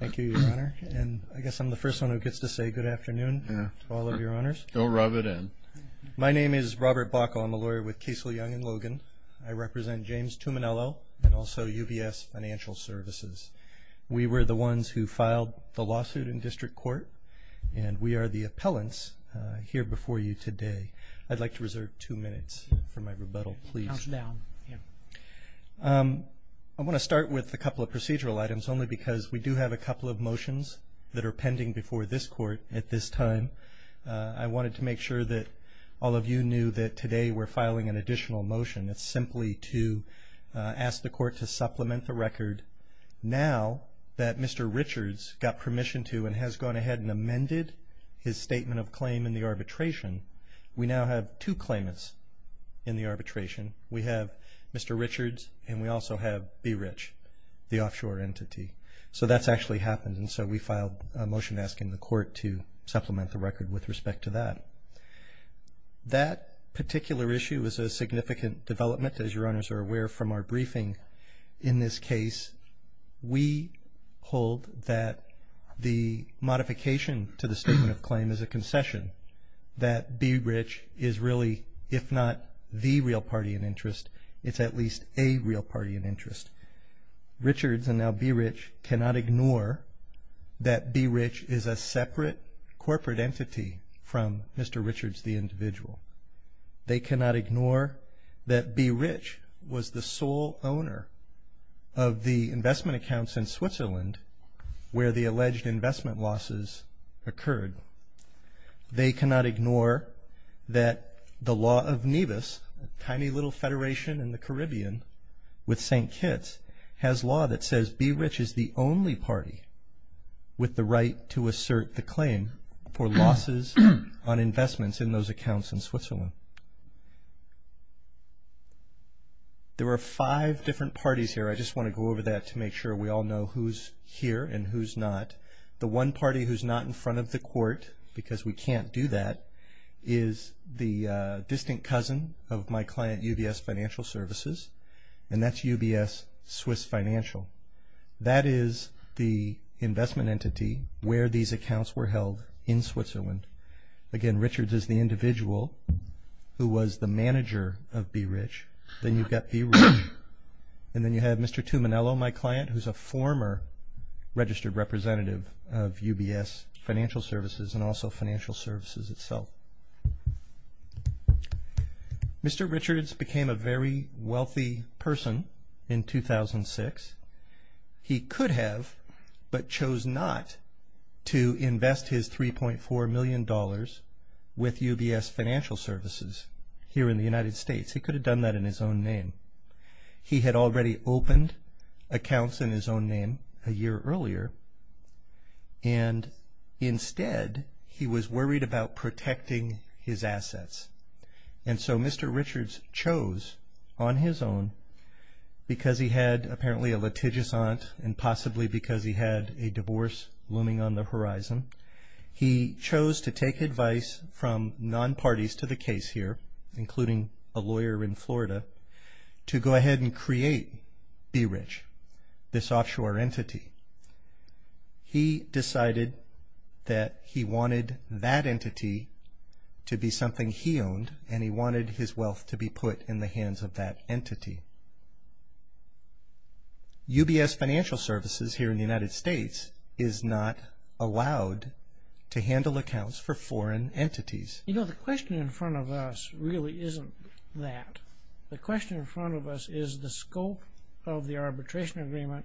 Thank you, Your Honor, and I guess I'm the first one who gets to say good afternoon to all of Your Honors. Go rub it in. My name is Robert Bockel. I'm a lawyer with Casel Young & Logan. I represent James Tuminello and also UBS Financial Services. We were the ones who filed the lawsuit in district court, and we are the appellants here before you today. I'd like to reserve two minutes for my rebuttal, please. Count it down. I want to start with a couple of procedural items only because we do have a couple of motions that are pending before this court at this time. I wanted to make sure that all of you knew that today we're filing an additional motion. It's simply to ask the court to supplement the record. Now that Mr. Richards got permission to and has gone ahead and amended his statement of claim in the arbitration, we now have two claimants in the arbitration. We have Mr. Richards, and we also have Be Rich, the offshore entity. So that's actually happened, and so we filed a motion asking the court to supplement the record with respect to that. That particular issue is a significant development, as Your Honors are aware, from our briefing in this case. We hold that the modification to the statement of claim is a concession, that Be Rich is really, if not the real party in interest, it's at least a real party in interest. Richards and now Be Rich cannot ignore that Be Rich is a separate corporate entity from Mr. Richards the individual. They cannot ignore that Be Rich was the sole owner of the investment accounts in Switzerland where the alleged investment losses occurred. They cannot ignore that the law of Nevis, a tiny little federation in the Caribbean with St. Kitts, has law that says Be Rich is the only party with the right to assert the claim for losses on investments in those accounts in Switzerland. There are five different parties here. I just want to go over that to make sure we all know who's here and who's not. The one party who's not in front of the court, because we can't do that, is the distant cousin of my client, UBS Financial Services, and that's UBS Swiss Financial. That is the investment entity where these accounts were held in Switzerland. Again, Richards is the individual who was the manager of Be Rich. Then you've got Be Rich and then you have Mr. Tuminello, my client, who's a former registered representative of UBS Financial Services and also Financial Services itself. Mr. Richards became a very wealthy person in 2006. He could have but chose not to invest his $3.4 million with UBS Financial Services here in the United States. He could have done that in his own name. He had already opened accounts in his own name a year earlier, and instead he was worried about protecting his assets. And so Mr. Richards chose on his own, because he had apparently a litigious aunt and possibly because he had a divorce looming on the horizon, he chose to take advice from non-parties to the case here, including a lawyer in Florida, to go ahead and create Be Rich, this offshore entity. He decided that he wanted that entity to be something he owned and he wanted his wealth to be put in the hands of that entity. UBS Financial Services here in the United States is not allowed to handle accounts for foreign entities. You know, the question in front of us really isn't that. The question in front of us is the scope of the arbitration agreement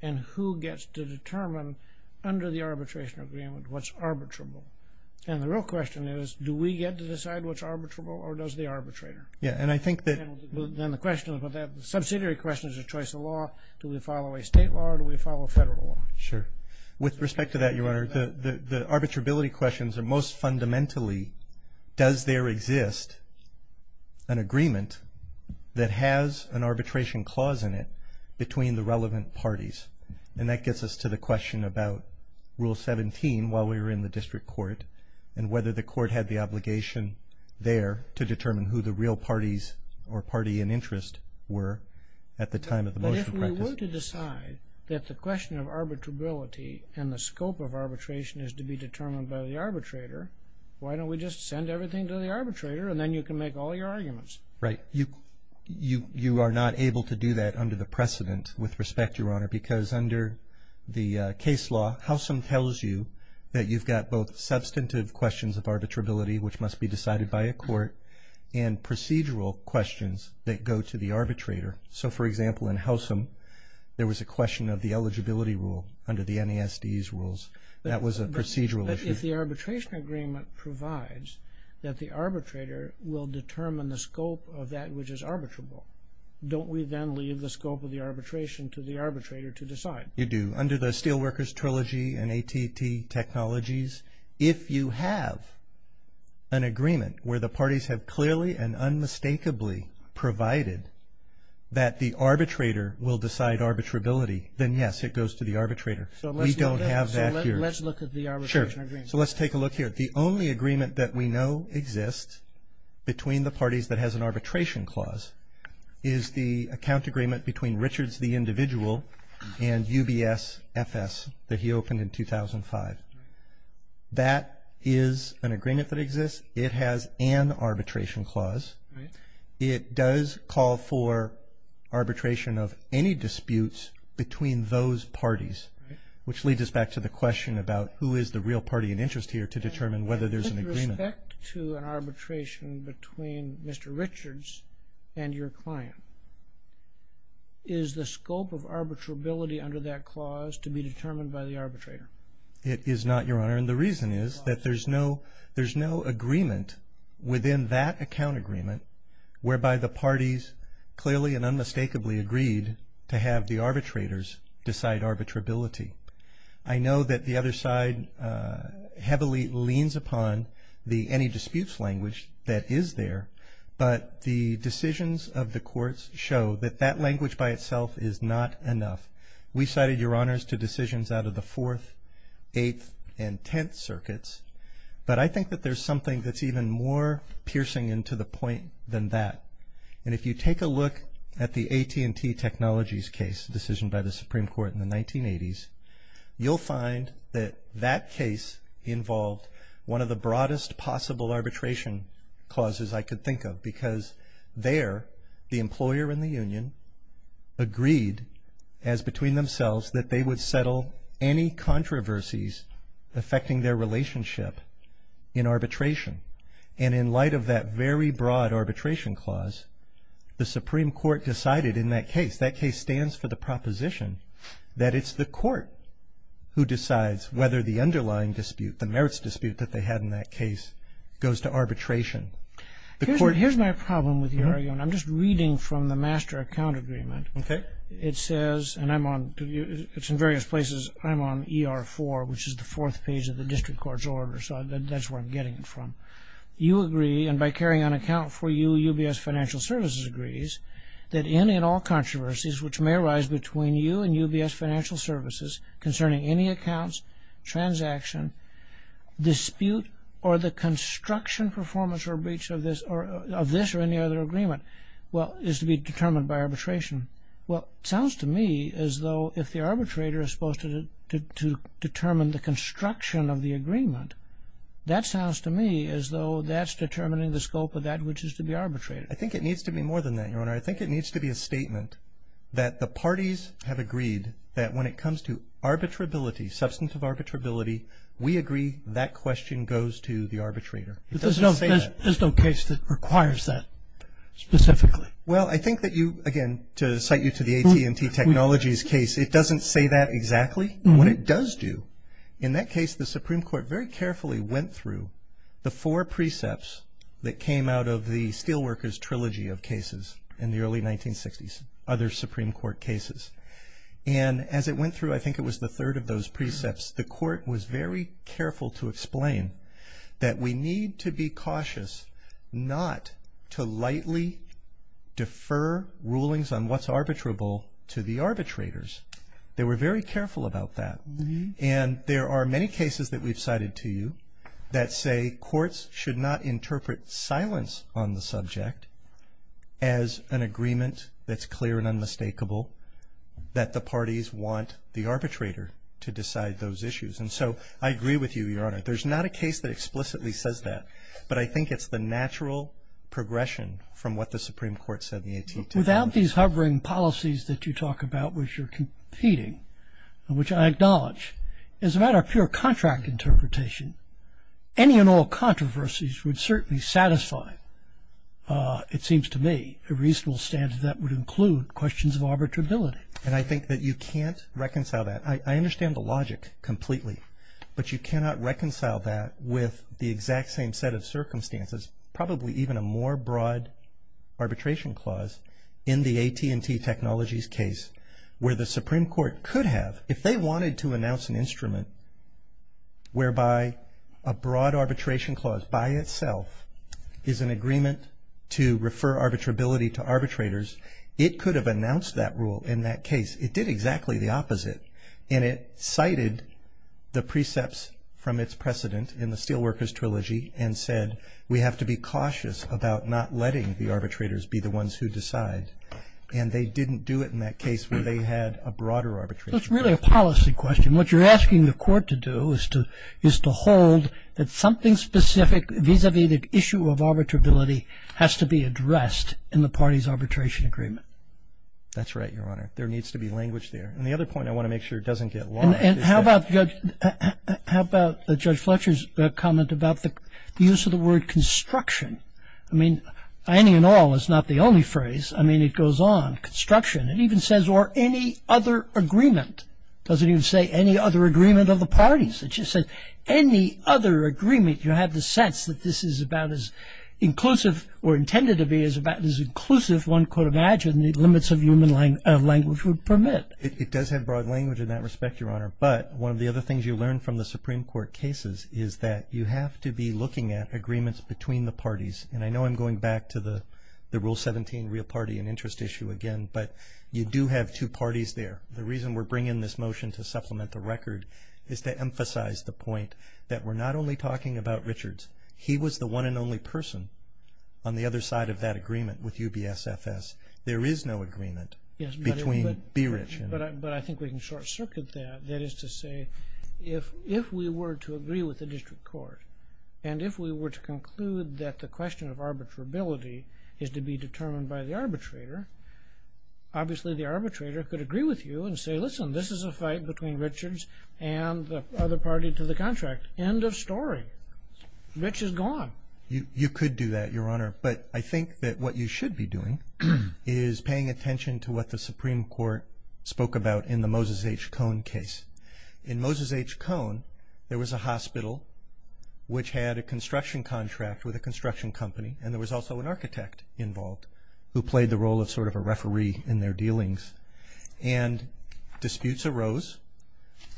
and who gets to determine under the arbitration agreement what's arbitrable. And the real question is, do we get to decide what's arbitrable or does the arbitrator? Yeah, and I think that... Then the question, the subsidiary question is a choice of law. Do we follow a state law or do we follow a federal law? Sure. With respect to that, Your Honor, the arbitrability questions are most fundamentally, does there exist an agreement that has an arbitration clause in it between the relevant parties? And that gets us to the question about Rule 17 while we were in the district court and whether the court had the obligation there to determine who the real parties or party in interest were at the time of the motion practice. But if we were to decide that the question of arbitrability and the scope of arbitration is to be determined by the arbitrator, why don't we just send everything to the arbitrator and then you can make all your arguments? Right. You are not able to do that under the precedent with respect, Your Honor, because under the case law, Howsam tells you that you've got both substantive questions of arbitrability, which must be decided by a court, and procedural questions that go to the arbitrator. So, for example, in Howsam, there was a question of the eligibility rule under the NASD's rules. That was a procedural issue. But if the arbitration agreement provides that the arbitrator will determine the scope of that which is arbitrable, don't we then leave the scope of the arbitration to the arbitrator to decide? You do. Under the Steelworkers Trilogy and AT&T Technologies, if you have an agreement where the parties have clearly and unmistakably provided that the arbitrator will decide arbitrability, then yes, it goes to the arbitrator. We don't have that here. So let's look at the arbitration agreement. Sure. So let's take a look here. The only agreement that we know exists between the parties that has an arbitration clause is the account agreement between Richards the individual and UBS FS that he opened in 2005. That is an agreement that exists. It has an arbitration clause. It does call for arbitration of any disputes between those parties, which leads us back to the question about who is the real party in interest here to determine whether there's an agreement. With respect to an arbitration between Mr. Richards and your client, is the scope of arbitrability under that clause to be determined by the arbitrator? It is not, Your Honor. And the reason is that there's no agreement within that account agreement whereby the parties clearly and unmistakably agreed to have the arbitrators decide arbitrability. I know that the other side heavily leans upon the any disputes language that is there, but the decisions of the courts show that that language by itself is not enough. We cited, Your Honors, to decisions out of the Fourth, Eighth, and Tenth Circuits, but I think that there's something that's even more piercing into the point than that. And if you take a look at the AT&T Technologies case decision by the Supreme Court in the 1980s, you'll find that that case involved one of the broadest possible arbitration clauses I could think of because there the employer and the union agreed as between themselves that they would settle any controversies affecting their relationship in arbitration. And in light of that very broad arbitration clause, the Supreme Court decided in that case, that case stands for the proposition that it's the court who decides whether the underlying dispute, the merits dispute that they had in that case, goes to arbitration. Here's my problem with your argument. I'm just reading from the master account agreement. Okay. It says, and it's in various places, I'm on ER4, which is the fourth page of the district court's order, so that's where I'm getting it from. You agree, and by carrying an account for you, UBS Financial Services agrees, that any and all controversies which may arise between you and UBS Financial Services concerning any accounts, transaction, dispute, or the construction, performance, or breach of this or any other agreement is to be determined by arbitration. Well, it sounds to me as though if the arbitrator is supposed to determine the construction of the agreement, that sounds to me as though that's determining the scope of that which is to be arbitrated. I think it needs to be more than that, Your Honor. I think it needs to be a statement that the parties have agreed that when it comes to arbitrability, substantive arbitrability, we agree that question goes to the arbitrator. It doesn't say that. There's no case that requires that specifically. Well, I think that you, again, to cite you to the AT&T Technologies case, it doesn't say that exactly. What it does do, in that case, the Supreme Court very carefully went through the four precepts that came out of the Steelworkers Trilogy of cases in the early 1960s, other Supreme Court cases, and as it went through, I think it was the third of those precepts, the court was very careful to explain that we need to be cautious not to lightly defer rulings on what's arbitrable to the arbitrators. They were very careful about that. And there are many cases that we've cited to you that say courts should not interpret silence on the subject as an agreement that's clear and unmistakable, that the parties want the arbitrator to decide those issues. And so I agree with you, Your Honor. There's not a case that explicitly says that, but I think it's the natural progression from what the Supreme Court said in the AT&T. Without these hovering policies that you talk about, which are competing, which I acknowledge, as a matter of pure contract interpretation, any and all controversies would certainly satisfy, it seems to me, a reasonable standard that would include questions of arbitrability. And I think that you can't reconcile that. I understand the logic completely, but you cannot reconcile that with the exact same set of circumstances, probably even a more broad arbitration clause in the AT&T Technologies case, where the Supreme Court could have, if they wanted to announce an instrument whereby a broad arbitration clause by itself is an agreement to refer arbitrability to arbitrators, it could have announced that rule in that case. It did exactly the opposite. And it cited the precepts from its precedent in the Steelworkers Trilogy and said, we have to be cautious about not letting the arbitrators be the ones who decide. And they didn't do it in that case where they had a broader arbitration clause. That's really a policy question. What you're asking the court to do is to hold that something specific, vis-a-vis the issue of arbitrability, has to be addressed in the party's arbitration agreement. That's right, Your Honor. There needs to be language there. And the other point I want to make sure doesn't get lost is that... And how about Judge Fletcher's comment about the use of the word construction? I mean, any and all is not the only phrase. I mean, it goes on. Construction. It even says, or any other agreement. It doesn't even say any other agreement of the parties. It just says any other agreement. You have the sense that this is about as inclusive or intended to be as about as inclusive, one could imagine, the limits of human language would permit. It does have broad language in that respect, Your Honor. But one of the other things you learn from the Supreme Court cases is that you have to be looking at agreements between the parties. And I know I'm going back to the Rule 17 real party and interest issue again, but you do have two parties there. The reason we're bringing this motion to supplement the record is to emphasize the point that we're not only talking about Richards. He was the one and only person on the other side of that agreement with UBSFS. There is no agreement between Beerich and... But I think we can short-circuit that. That is to say, if we were to agree with the district court, and if we were to conclude that the question of arbitrability is to be determined by the arbitrator, obviously the arbitrator could agree with you and say, listen, this is a fight between Richards and the other party to the contract. End of story. Rich is gone. You could do that, Your Honor. But I think that what you should be doing is paying attention to what the Supreme Court spoke about in the Moses H. Cohn case. In Moses H. Cohn, there was a hospital which had a construction contract with a construction company, and there was also an architect involved who played the role of sort of a referee in their dealings. And disputes arose.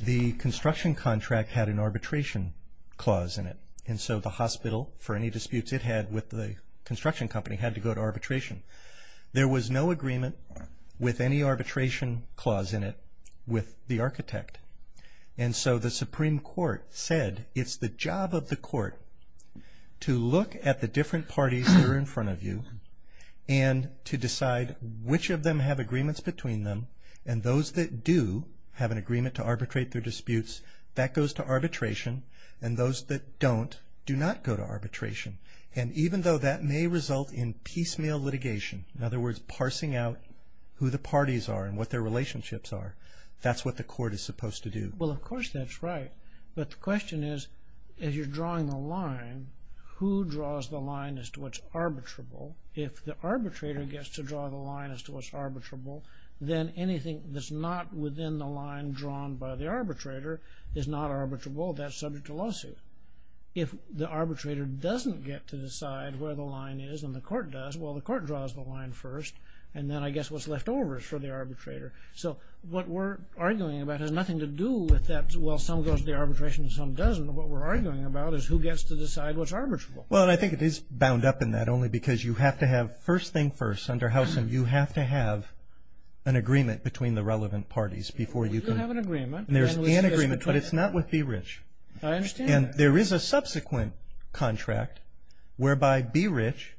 The construction contract had an arbitration clause in it, and so the hospital, for any disputes it had with the construction company, had to go to arbitration. There was no agreement with any arbitration clause in it with the architect. And so the Supreme Court said it's the job of the court to look at the different parties that are in front of you and to decide which of them have agreements between them, and those that do have an agreement to arbitrate their disputes, that goes to arbitration, and those that don't do not go to arbitration. And even though that may result in piecemeal litigation, in other words, parsing out who the parties are and what their relationships are, that's what the court is supposed to do. Well, of course that's right. But the question is, as you're drawing the line, who draws the line as to what's arbitrable? If the arbitrator gets to draw the line as to what's arbitrable, then anything that's not within the line drawn by the arbitrator is not arbitrable. That's subject to lawsuit. If the arbitrator doesn't get to decide where the line is and the court does, well, the court draws the line first, and then I guess what's left over is for the arbitrator. So what we're arguing about has nothing to do with that, well, some goes to the arbitration and some doesn't. What we're arguing about is who gets to decide what's arbitrable. Well, and I think it is bound up in that only because you have to have, first thing first, under Housen, you have to have an agreement between the relevant parties before you can— Well, we do have an agreement. There's an agreement, but it's not with B. Rich. I understand. And there is a subsequent contract whereby B. Rich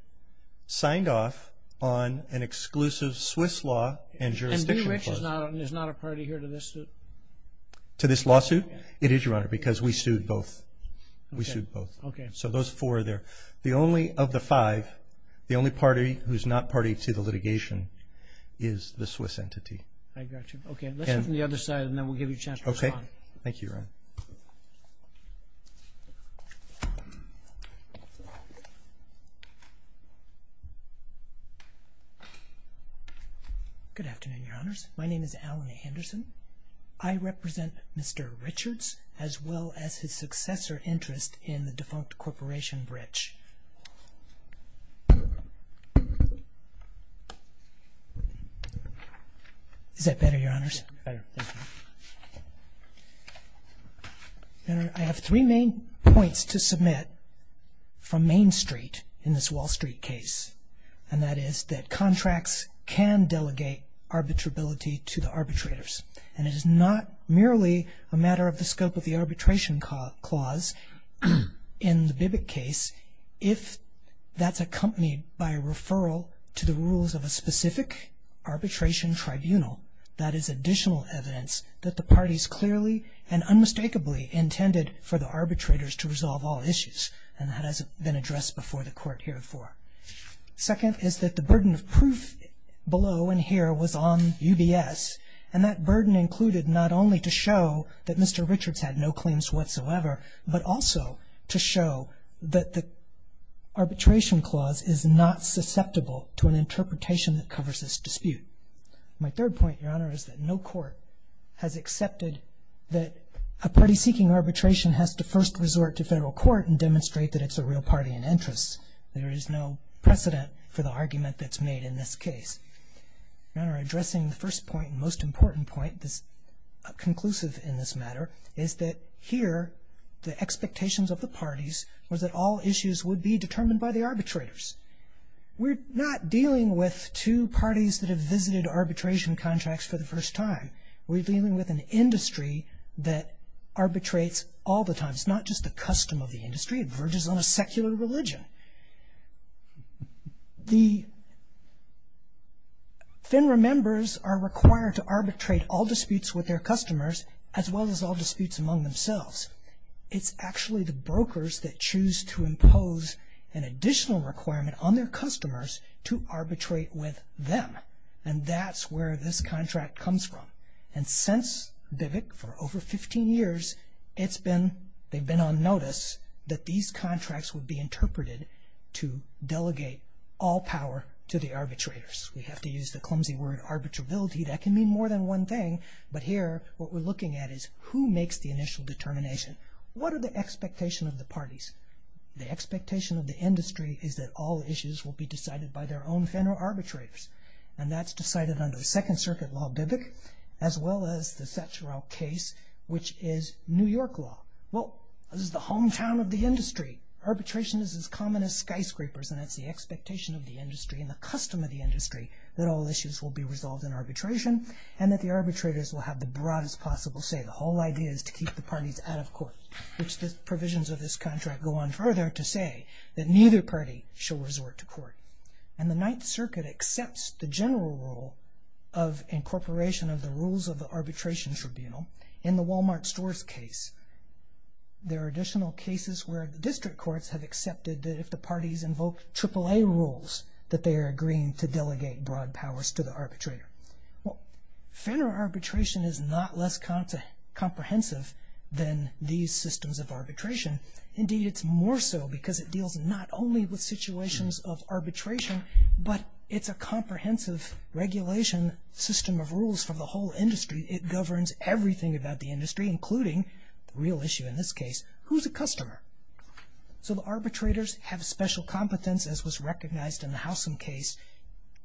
signed off on an exclusive Swiss law and jurisdiction clause. And B. Rich is not a party here to this suit? To this lawsuit? It is, Your Honor, because we sued both. We sued both. Okay. So those four are there. The only of the five, the only party who's not party to the litigation is the Swiss entity. I got you. Okay, let's go from the other side, and then we'll give you a chance to respond. Okay. Thank you, Your Honor. Good afternoon, Your Honors. My name is Alan Anderson. I represent Mr. Richards as well as his successor interest in the defunct corporation, B. Rich. Is that better, Your Honors? That's better, thank you. Your Honor, I have three main points to submit from Main Street in this Wall Street case, and that is that contracts can delegate arbitrability to the arbitrators. And it is not merely a matter of the scope of the arbitration clause in the Bibbitt case if that's accompanied by a referral to the rules of a specific arbitration tribunal that is additional evidence that the parties clearly and unmistakably intended for the arbitrators to resolve all issues. And that has been addressed before the Court here before. Second is that the burden of proof below in here was on UBS, and that burden included not only to show that Mr. Richards had no claims whatsoever, but also to show that the arbitration clause is not susceptible to an interpretation that covers this dispute. My third point, Your Honor, is that no court has accepted that a party seeking arbitration has to first resort to federal court and demonstrate that it's a real party in interest. There is no precedent for the argument that's made in this case. Your Honor, addressing the first point and most important point, this conclusive in this matter, is that here the expectations of the parties was that all issues would be determined by the arbitrators. We're not dealing with two parties that have visited arbitration contracts for the first time. We're dealing with an industry that arbitrates all the time. It's not just a custom of the industry. It verges on a secular religion. The FINRA members are required to arbitrate all disputes with their customers as well as all disputes among themselves. It's actually the brokers that choose to impose an additional requirement on their customers to arbitrate with them, and that's where this contract comes from. And since BIVC, for over 15 years, it's been, they've been on notice that these contracts would be interpreted to delegate all power to the arbitrators. We have to use the clumsy word arbitrability. That can mean more than one thing, but here what we're looking at is who makes the initial determination. What are the expectations of the parties? The expectation of the industry is that all issues will be decided by their own FINRA arbitrators, and that's decided under the Second Circuit Law, BIVC, as well as the Satcharow case, which is New York law. Well, this is the hometown of the industry. Arbitration is as common as skyscrapers, and that's the expectation of the industry and the custom of the industry that all issues will be resolved in arbitration and that the arbitrators will have the broadest possible say. The whole idea is to keep the parties out of court, which the provisions of this contract go on further to say that neither party shall resort to court. And the Ninth Circuit accepts the general rule of incorporation of the rules of the arbitration tribunal. In the Walmart stores case, there are additional cases where the district courts have accepted that if the parties invoke AAA rules, that they are agreeing to delegate broad powers to the arbitrator. Well, FINRA arbitration is not less comprehensive than these systems of arbitration. Indeed, it's more so because it deals not only with situations of arbitration, but it's a comprehensive regulation system of rules for the whole industry. It governs everything about the industry, including the real issue in this case, who's a customer? So the arbitrators have special competence, as was recognized in the Howsam case,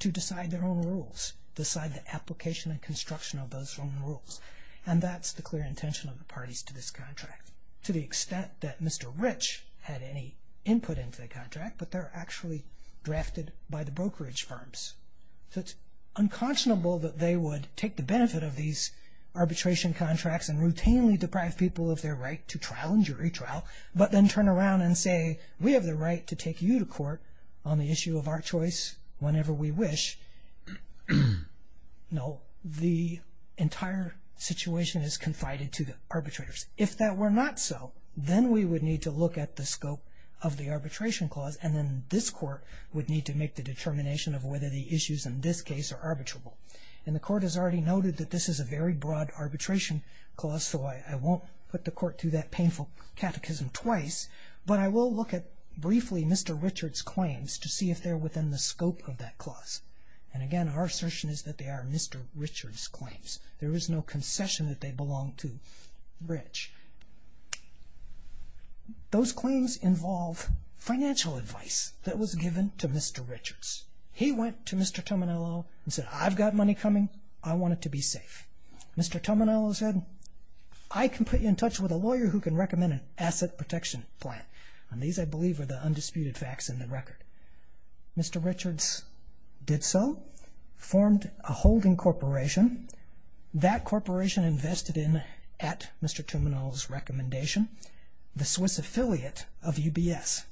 to decide their own rules, decide the application and construction of those own rules. And that's the clear intention of the parties to this contract, to the extent that Mr. Rich had any input into the contract, but they're actually drafted by the brokerage firms. So it's unconscionable that they would take the benefit of these arbitration contracts and routinely deprive people of their right to trial and jury trial, but then turn around and say, we have the right to take you to court on the issue of our choice whenever we wish. No, the entire situation is confided to the arbitrators. If that were not so, then we would need to look at the scope of the arbitration clause, and then this court would need to make the determination of whether the issues in this case are arbitrable. And the court has already noted that this is a very broad arbitration clause, so I won't put the court through that painful catechism twice, but I will look at briefly Mr. Richard's claims to see if they're within the scope of that clause. And again, our assertion is that they are Mr. Richard's claims. There is no concession that they belong to Rich. Those claims involve financial advice that was given to Mr. Richard's. He went to Mr. Tominello and said, I've got money coming, I want it to be safe. Mr. Tominello said, I can put you in touch with a lawyer who can recommend an asset protection plan. And these, I believe, are the undisputed facts in the record. Mr. Richard's did so, formed a holding corporation. That corporation invested in, at Mr. Tominello's recommendation, the Swiss affiliate of UBS.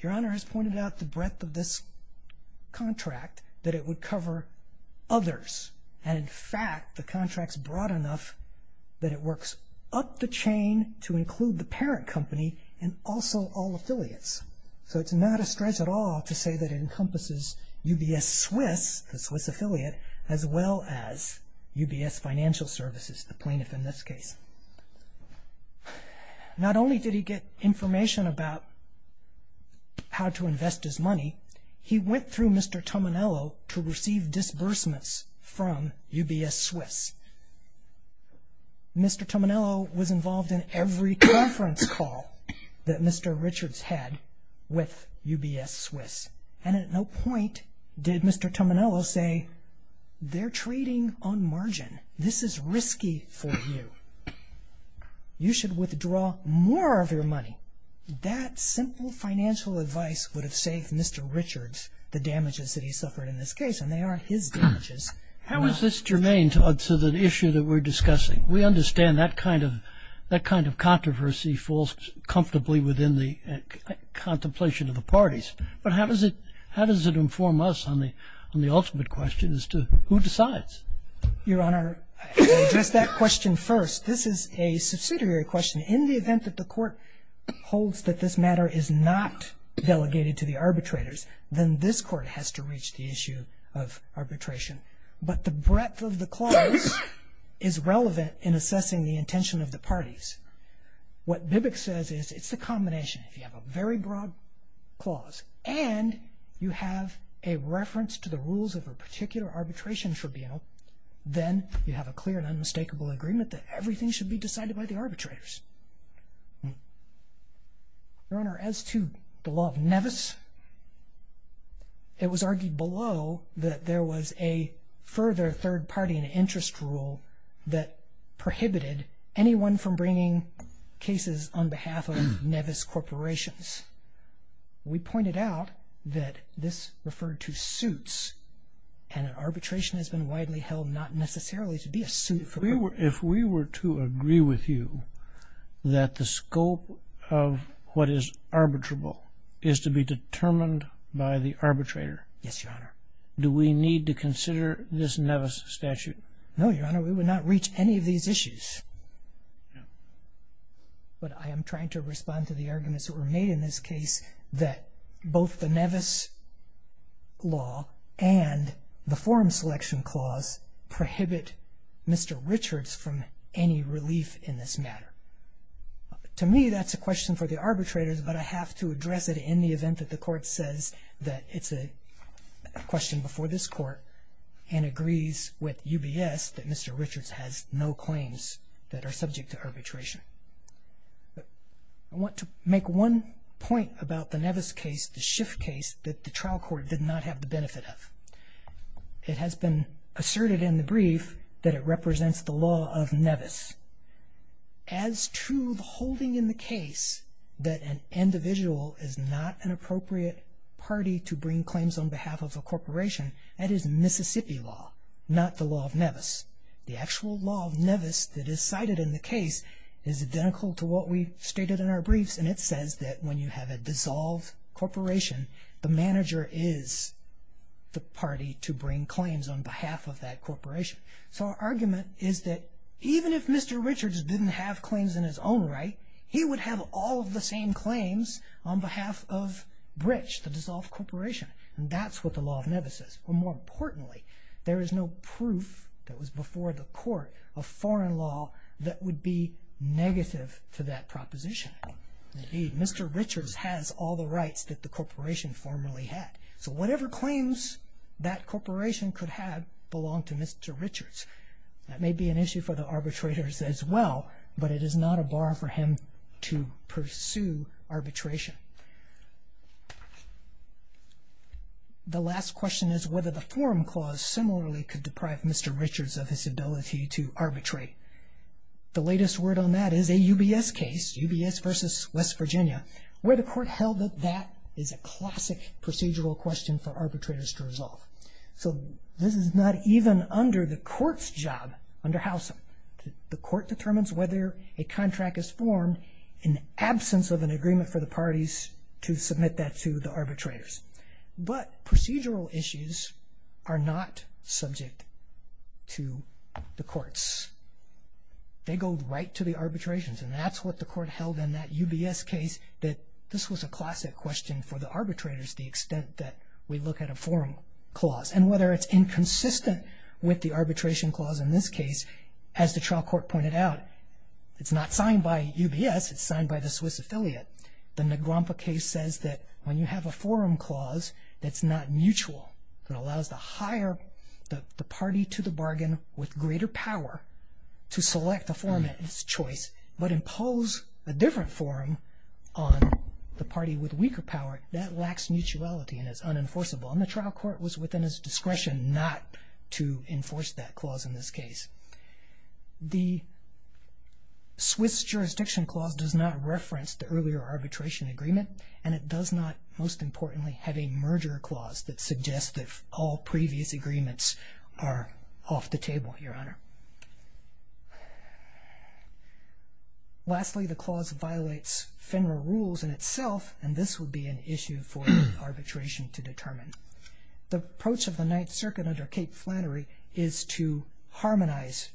Your Honor has pointed out the breadth of this contract, that it would cover others. And in fact, the contract's broad enough that it works up the chain to include the parent company and also all affiliates. So it's not a stretch at all to say that it encompasses UBS Swiss, the Swiss affiliate, as well as UBS Financial Services, the plaintiff in this case. Not only did he get information about how to invest his money, he went through Mr. Tominello to receive disbursements from UBS Swiss. Mr. Tominello was involved in every conference call that Mr. Richard's had with UBS Swiss. And at no point did Mr. Tominello say, they're trading on margin. This is risky for you. You should withdraw more of your money. So that simple financial advice would have saved Mr. Richard's the damages that he suffered in this case, and they aren't his damages. How is this germane to the issue that we're discussing? We understand that kind of controversy falls comfortably within the contemplation of the parties. But how does it inform us on the ultimate question as to who decides? Your Honor, I'll address that question first. This is a subsidiary question. In the event that the court holds that this matter is not delegated to the arbitrators, then this court has to reach the issue of arbitration. But the breadth of the clause is relevant in assessing the intention of the parties. What Bibbick says is it's the combination. If you have a very broad clause and you have a reference to the rules of a particular arbitration tribunal, then you have a clear and unmistakable agreement that everything should be decided by the arbitrators. Your Honor, as to the law of Nevis, it was argued below that there was a further third-party interest rule that prohibited anyone from bringing cases on behalf of Nevis corporations. We pointed out that this referred to suits, and an arbitration has been widely held not necessarily to be a suit. If we were to agree with you that the scope of what is arbitrable is to be determined by the arbitrator, do we need to consider this Nevis statute? No, Your Honor, we would not reach any of these issues. No. But I am trying to respond to the arguments that were made in this case that both the Nevis law and the forum selection clause prohibit Mr. Richards from any relief in this matter. To me, that's a question for the arbitrators, but I have to address it in the event that the court says that it's a question before this court and agrees with UBS that Mr. Richards has no claims that are subject to arbitration. I want to make one point about the Nevis case, the Schiff case, that the trial court did not have the benefit of. It has been asserted in the brief that it represents the law of Nevis. As to the holding in the case that an individual is not an appropriate party to bring claims on behalf of a corporation, that is Mississippi law, not the law of Nevis. The actual law of Nevis that is cited in the case is identical to what we stated in our briefs, and it says that when you have a dissolved corporation, the manager is the party to bring claims on behalf of that corporation. So our argument is that even if Mr. Richards didn't have claims in his own right, he would have all of the same claims on behalf of BRICS, the dissolved corporation, and that's what the law of Nevis says. But more importantly, there is no proof that was before the court of foreign law that would be negative to that proposition, that Mr. Richards has all the rights that the corporation formerly had. So whatever claims that corporation could have belonged to Mr. Richards. That may be an issue for the arbitrators as well, but it is not a bar for him to pursue arbitration. The last question is whether the forum clause similarly could deprive Mr. Richards of his ability to arbitrate. The latest word on that is a UBS case, UBS v. West Virginia, where the court held that that is a classic procedural question for arbitrators to resolve. So this is not even under the court's job under Housum. The court determines whether a contract is formed in absence of an agreement for the parties to submit that to the arbitrators. But procedural issues are not subject to the courts. They go right to the arbitrations, and that's what the court held in that UBS case, that this was a classic question for the arbitrators, the extent that we look at a forum clause. And whether it's inconsistent with the arbitration clause in this case, as the trial court pointed out, it's not signed by UBS. It's signed by the Swiss affiliate. The Negrompa case says that when you have a forum clause that's not mutual, that allows the party to the bargain with greater power to select a forum of its choice but impose a different forum on the party with weaker power, that lacks mutuality and is unenforceable. And the trial court was within its discretion not to enforce that clause in this case. The Swiss jurisdiction clause does not reference the earlier arbitration agreement, and it does not, most importantly, have a merger clause that suggests that all previous agreements are off the table, Your Honor. Lastly, the clause violates FINRA rules in itself, and this would be an issue for arbitration to determine. The approach of the Ninth Circuit under Cate Flannery is to harmonize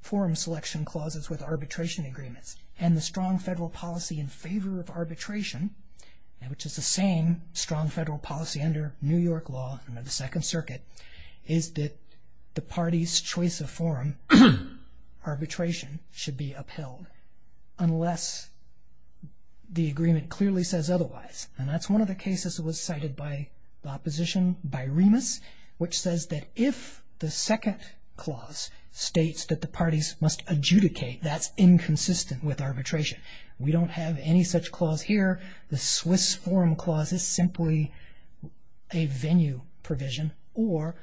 forum selection clauses with arbitration agreements. And the strong federal policy in favor of arbitration, which is the same strong federal policy under New York law, under the Second Circuit, is that the party's choice of forum arbitration should be upheld unless the agreement clearly says otherwise. And that's one of the cases that was cited by the opposition by Remus, which says that if the second clause states that the parties must adjudicate, that's inconsistent with arbitration. We don't have any such clause here. The Swiss forum clause is simply a venue provision or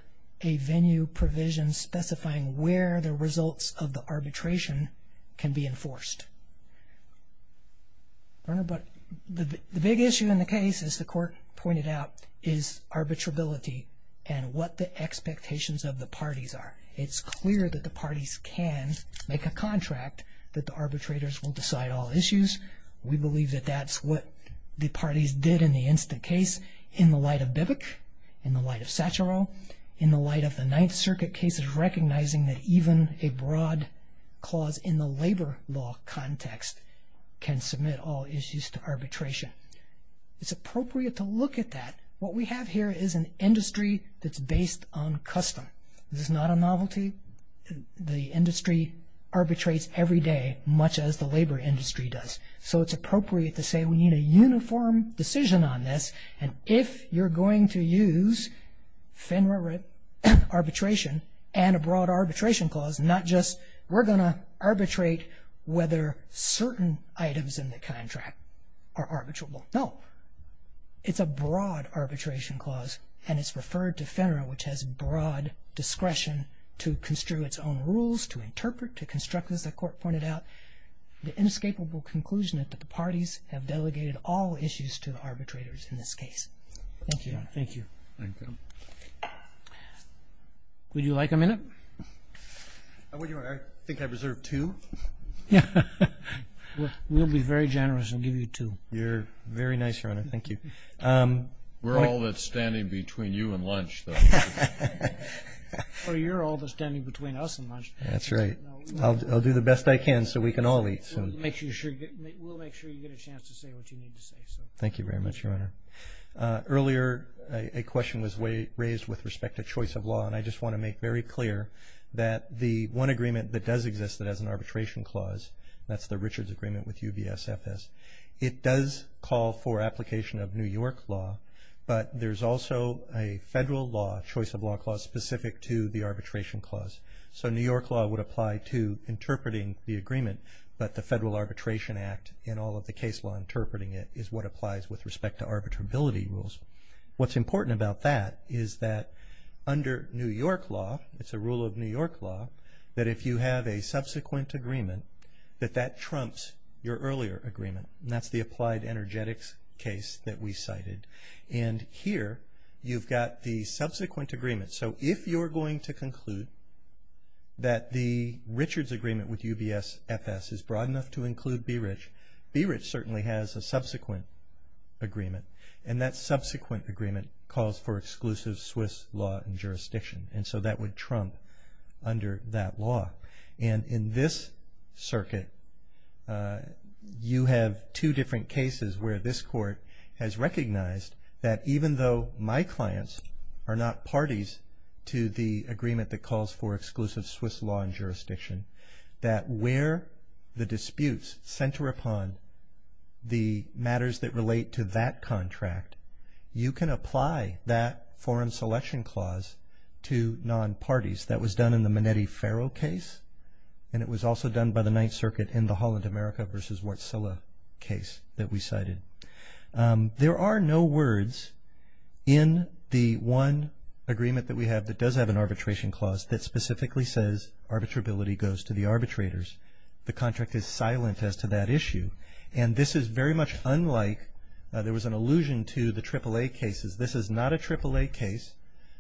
a venue provision specifying where the results of the arbitration can be enforced. Your Honor, but the big issue in the case, as the Court pointed out, is arbitrability and what the expectations of the parties are. It's clear that the parties can make a contract that the arbitrators will decide all issues. We believe that that's what the parties did in the instant case in the light of Bivec, in the light of Satcharo, in the light of the Ninth Circuit cases recognizing that even a broad clause in the labor law context can submit all issues to arbitration. It's appropriate to look at that. What we have here is an industry that's based on custom. This is not a novelty. The industry arbitrates every day, much as the labor industry does. So it's appropriate to say we need a uniform decision on this, and if you're going to use FINRA arbitration and a broad arbitration clause, not just we're going to arbitrate whether certain items in the contract are arbitrable. No, it's a broad arbitration clause, and it's referred to FINRA, which has broad discretion to construe its own rules, to interpret, to construct, as the Court pointed out, the inescapable conclusion that the parties have delegated all issues to the arbitrators in this case. Thank you, Your Honor. Thank you. Would you like a minute? I think I reserved two. We'll be very generous and give you two. You're very nice, Your Honor. Thank you. We're all that's standing between you and lunch, though. Well, you're all that's standing between us and lunch. That's right. I'll do the best I can so we can all eat. We'll make sure you get a chance to say what you need to say. Thank you very much, Your Honor. Earlier, a question was raised with respect to choice of law, and I just want to make very clear that the one agreement that does exist that has an arbitration clause, that's the Richards Agreement with UBSFS, it does call for application of New York law, but there's also a federal law, choice of law clause, specific to the arbitration clause. So New York law would apply to interpreting the agreement, but the Federal Arbitration Act and all of the case law interpreting it is what applies with respect to arbitrability rules. What's important about that is that under New York law, it's a rule of New York law, that if you have a subsequent agreement, that that trumps your earlier agreement, and that's the applied energetics case that we cited. And here you've got the subsequent agreement. So if you're going to conclude that the Richards Agreement with UBSFS is broad enough to include BRIC, BRIC certainly has a subsequent agreement, and that subsequent agreement calls for exclusive Swiss law and jurisdiction, and so that would trump under that law. And in this circuit, you have two different cases where this court has recognized that even though my clients are not parties to the agreement that calls for exclusive Swiss law and jurisdiction, that where the disputes center upon the matters that relate to that contract, you can apply that foreign selection clause to non-parties. That was done in the Manetti-Ferro case, and it was also done by the Ninth Circuit in the Holland America versus Wartsilla case that we cited. There are no words in the one agreement that we have that does have an arbitration clause that specifically says arbitrability goes to the arbitrators. The contract is silent as to that issue, and this is very much unlike, there was an allusion to the AAA cases. This is not a AAA case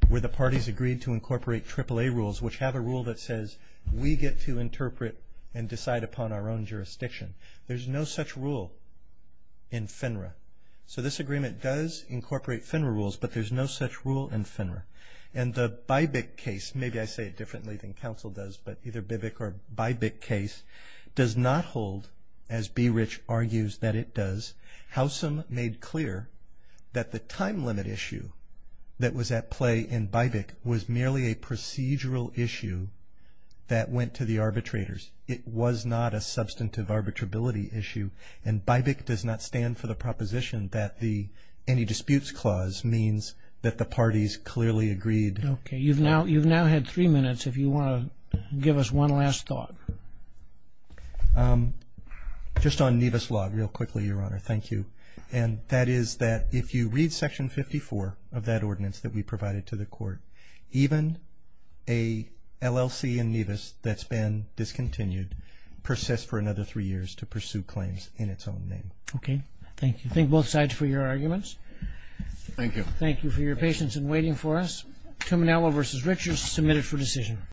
where the parties agreed to incorporate the AAA rules, which have a rule that says we get to interpret and decide upon our own jurisdiction. There's no such rule in FINRA. So this agreement does incorporate FINRA rules, but there's no such rule in FINRA. And the Bybic case, maybe I say it differently than counsel does, but either Bybic or Bybic case, does not hold, as Beerich argues that it does. Bybic was merely a procedural issue that went to the arbitrators. It was not a substantive arbitrability issue, and Bybic does not stand for the proposition that the anti-disputes clause means that the parties clearly agreed. Okay. You've now had three minutes if you want to give us one last thought. Just on Nevis Law real quickly, Your Honor. Thank you. And that is that if you read Section 54 of that ordinance that we provided to the court, even a LLC in Nevis that's been discontinued persists for another three years to pursue claims in its own name. Okay. Thank you. Thank both sides for your arguments. Thank you. Thank you for your patience in waiting for us. Terminello v. Richards, submitted for decision.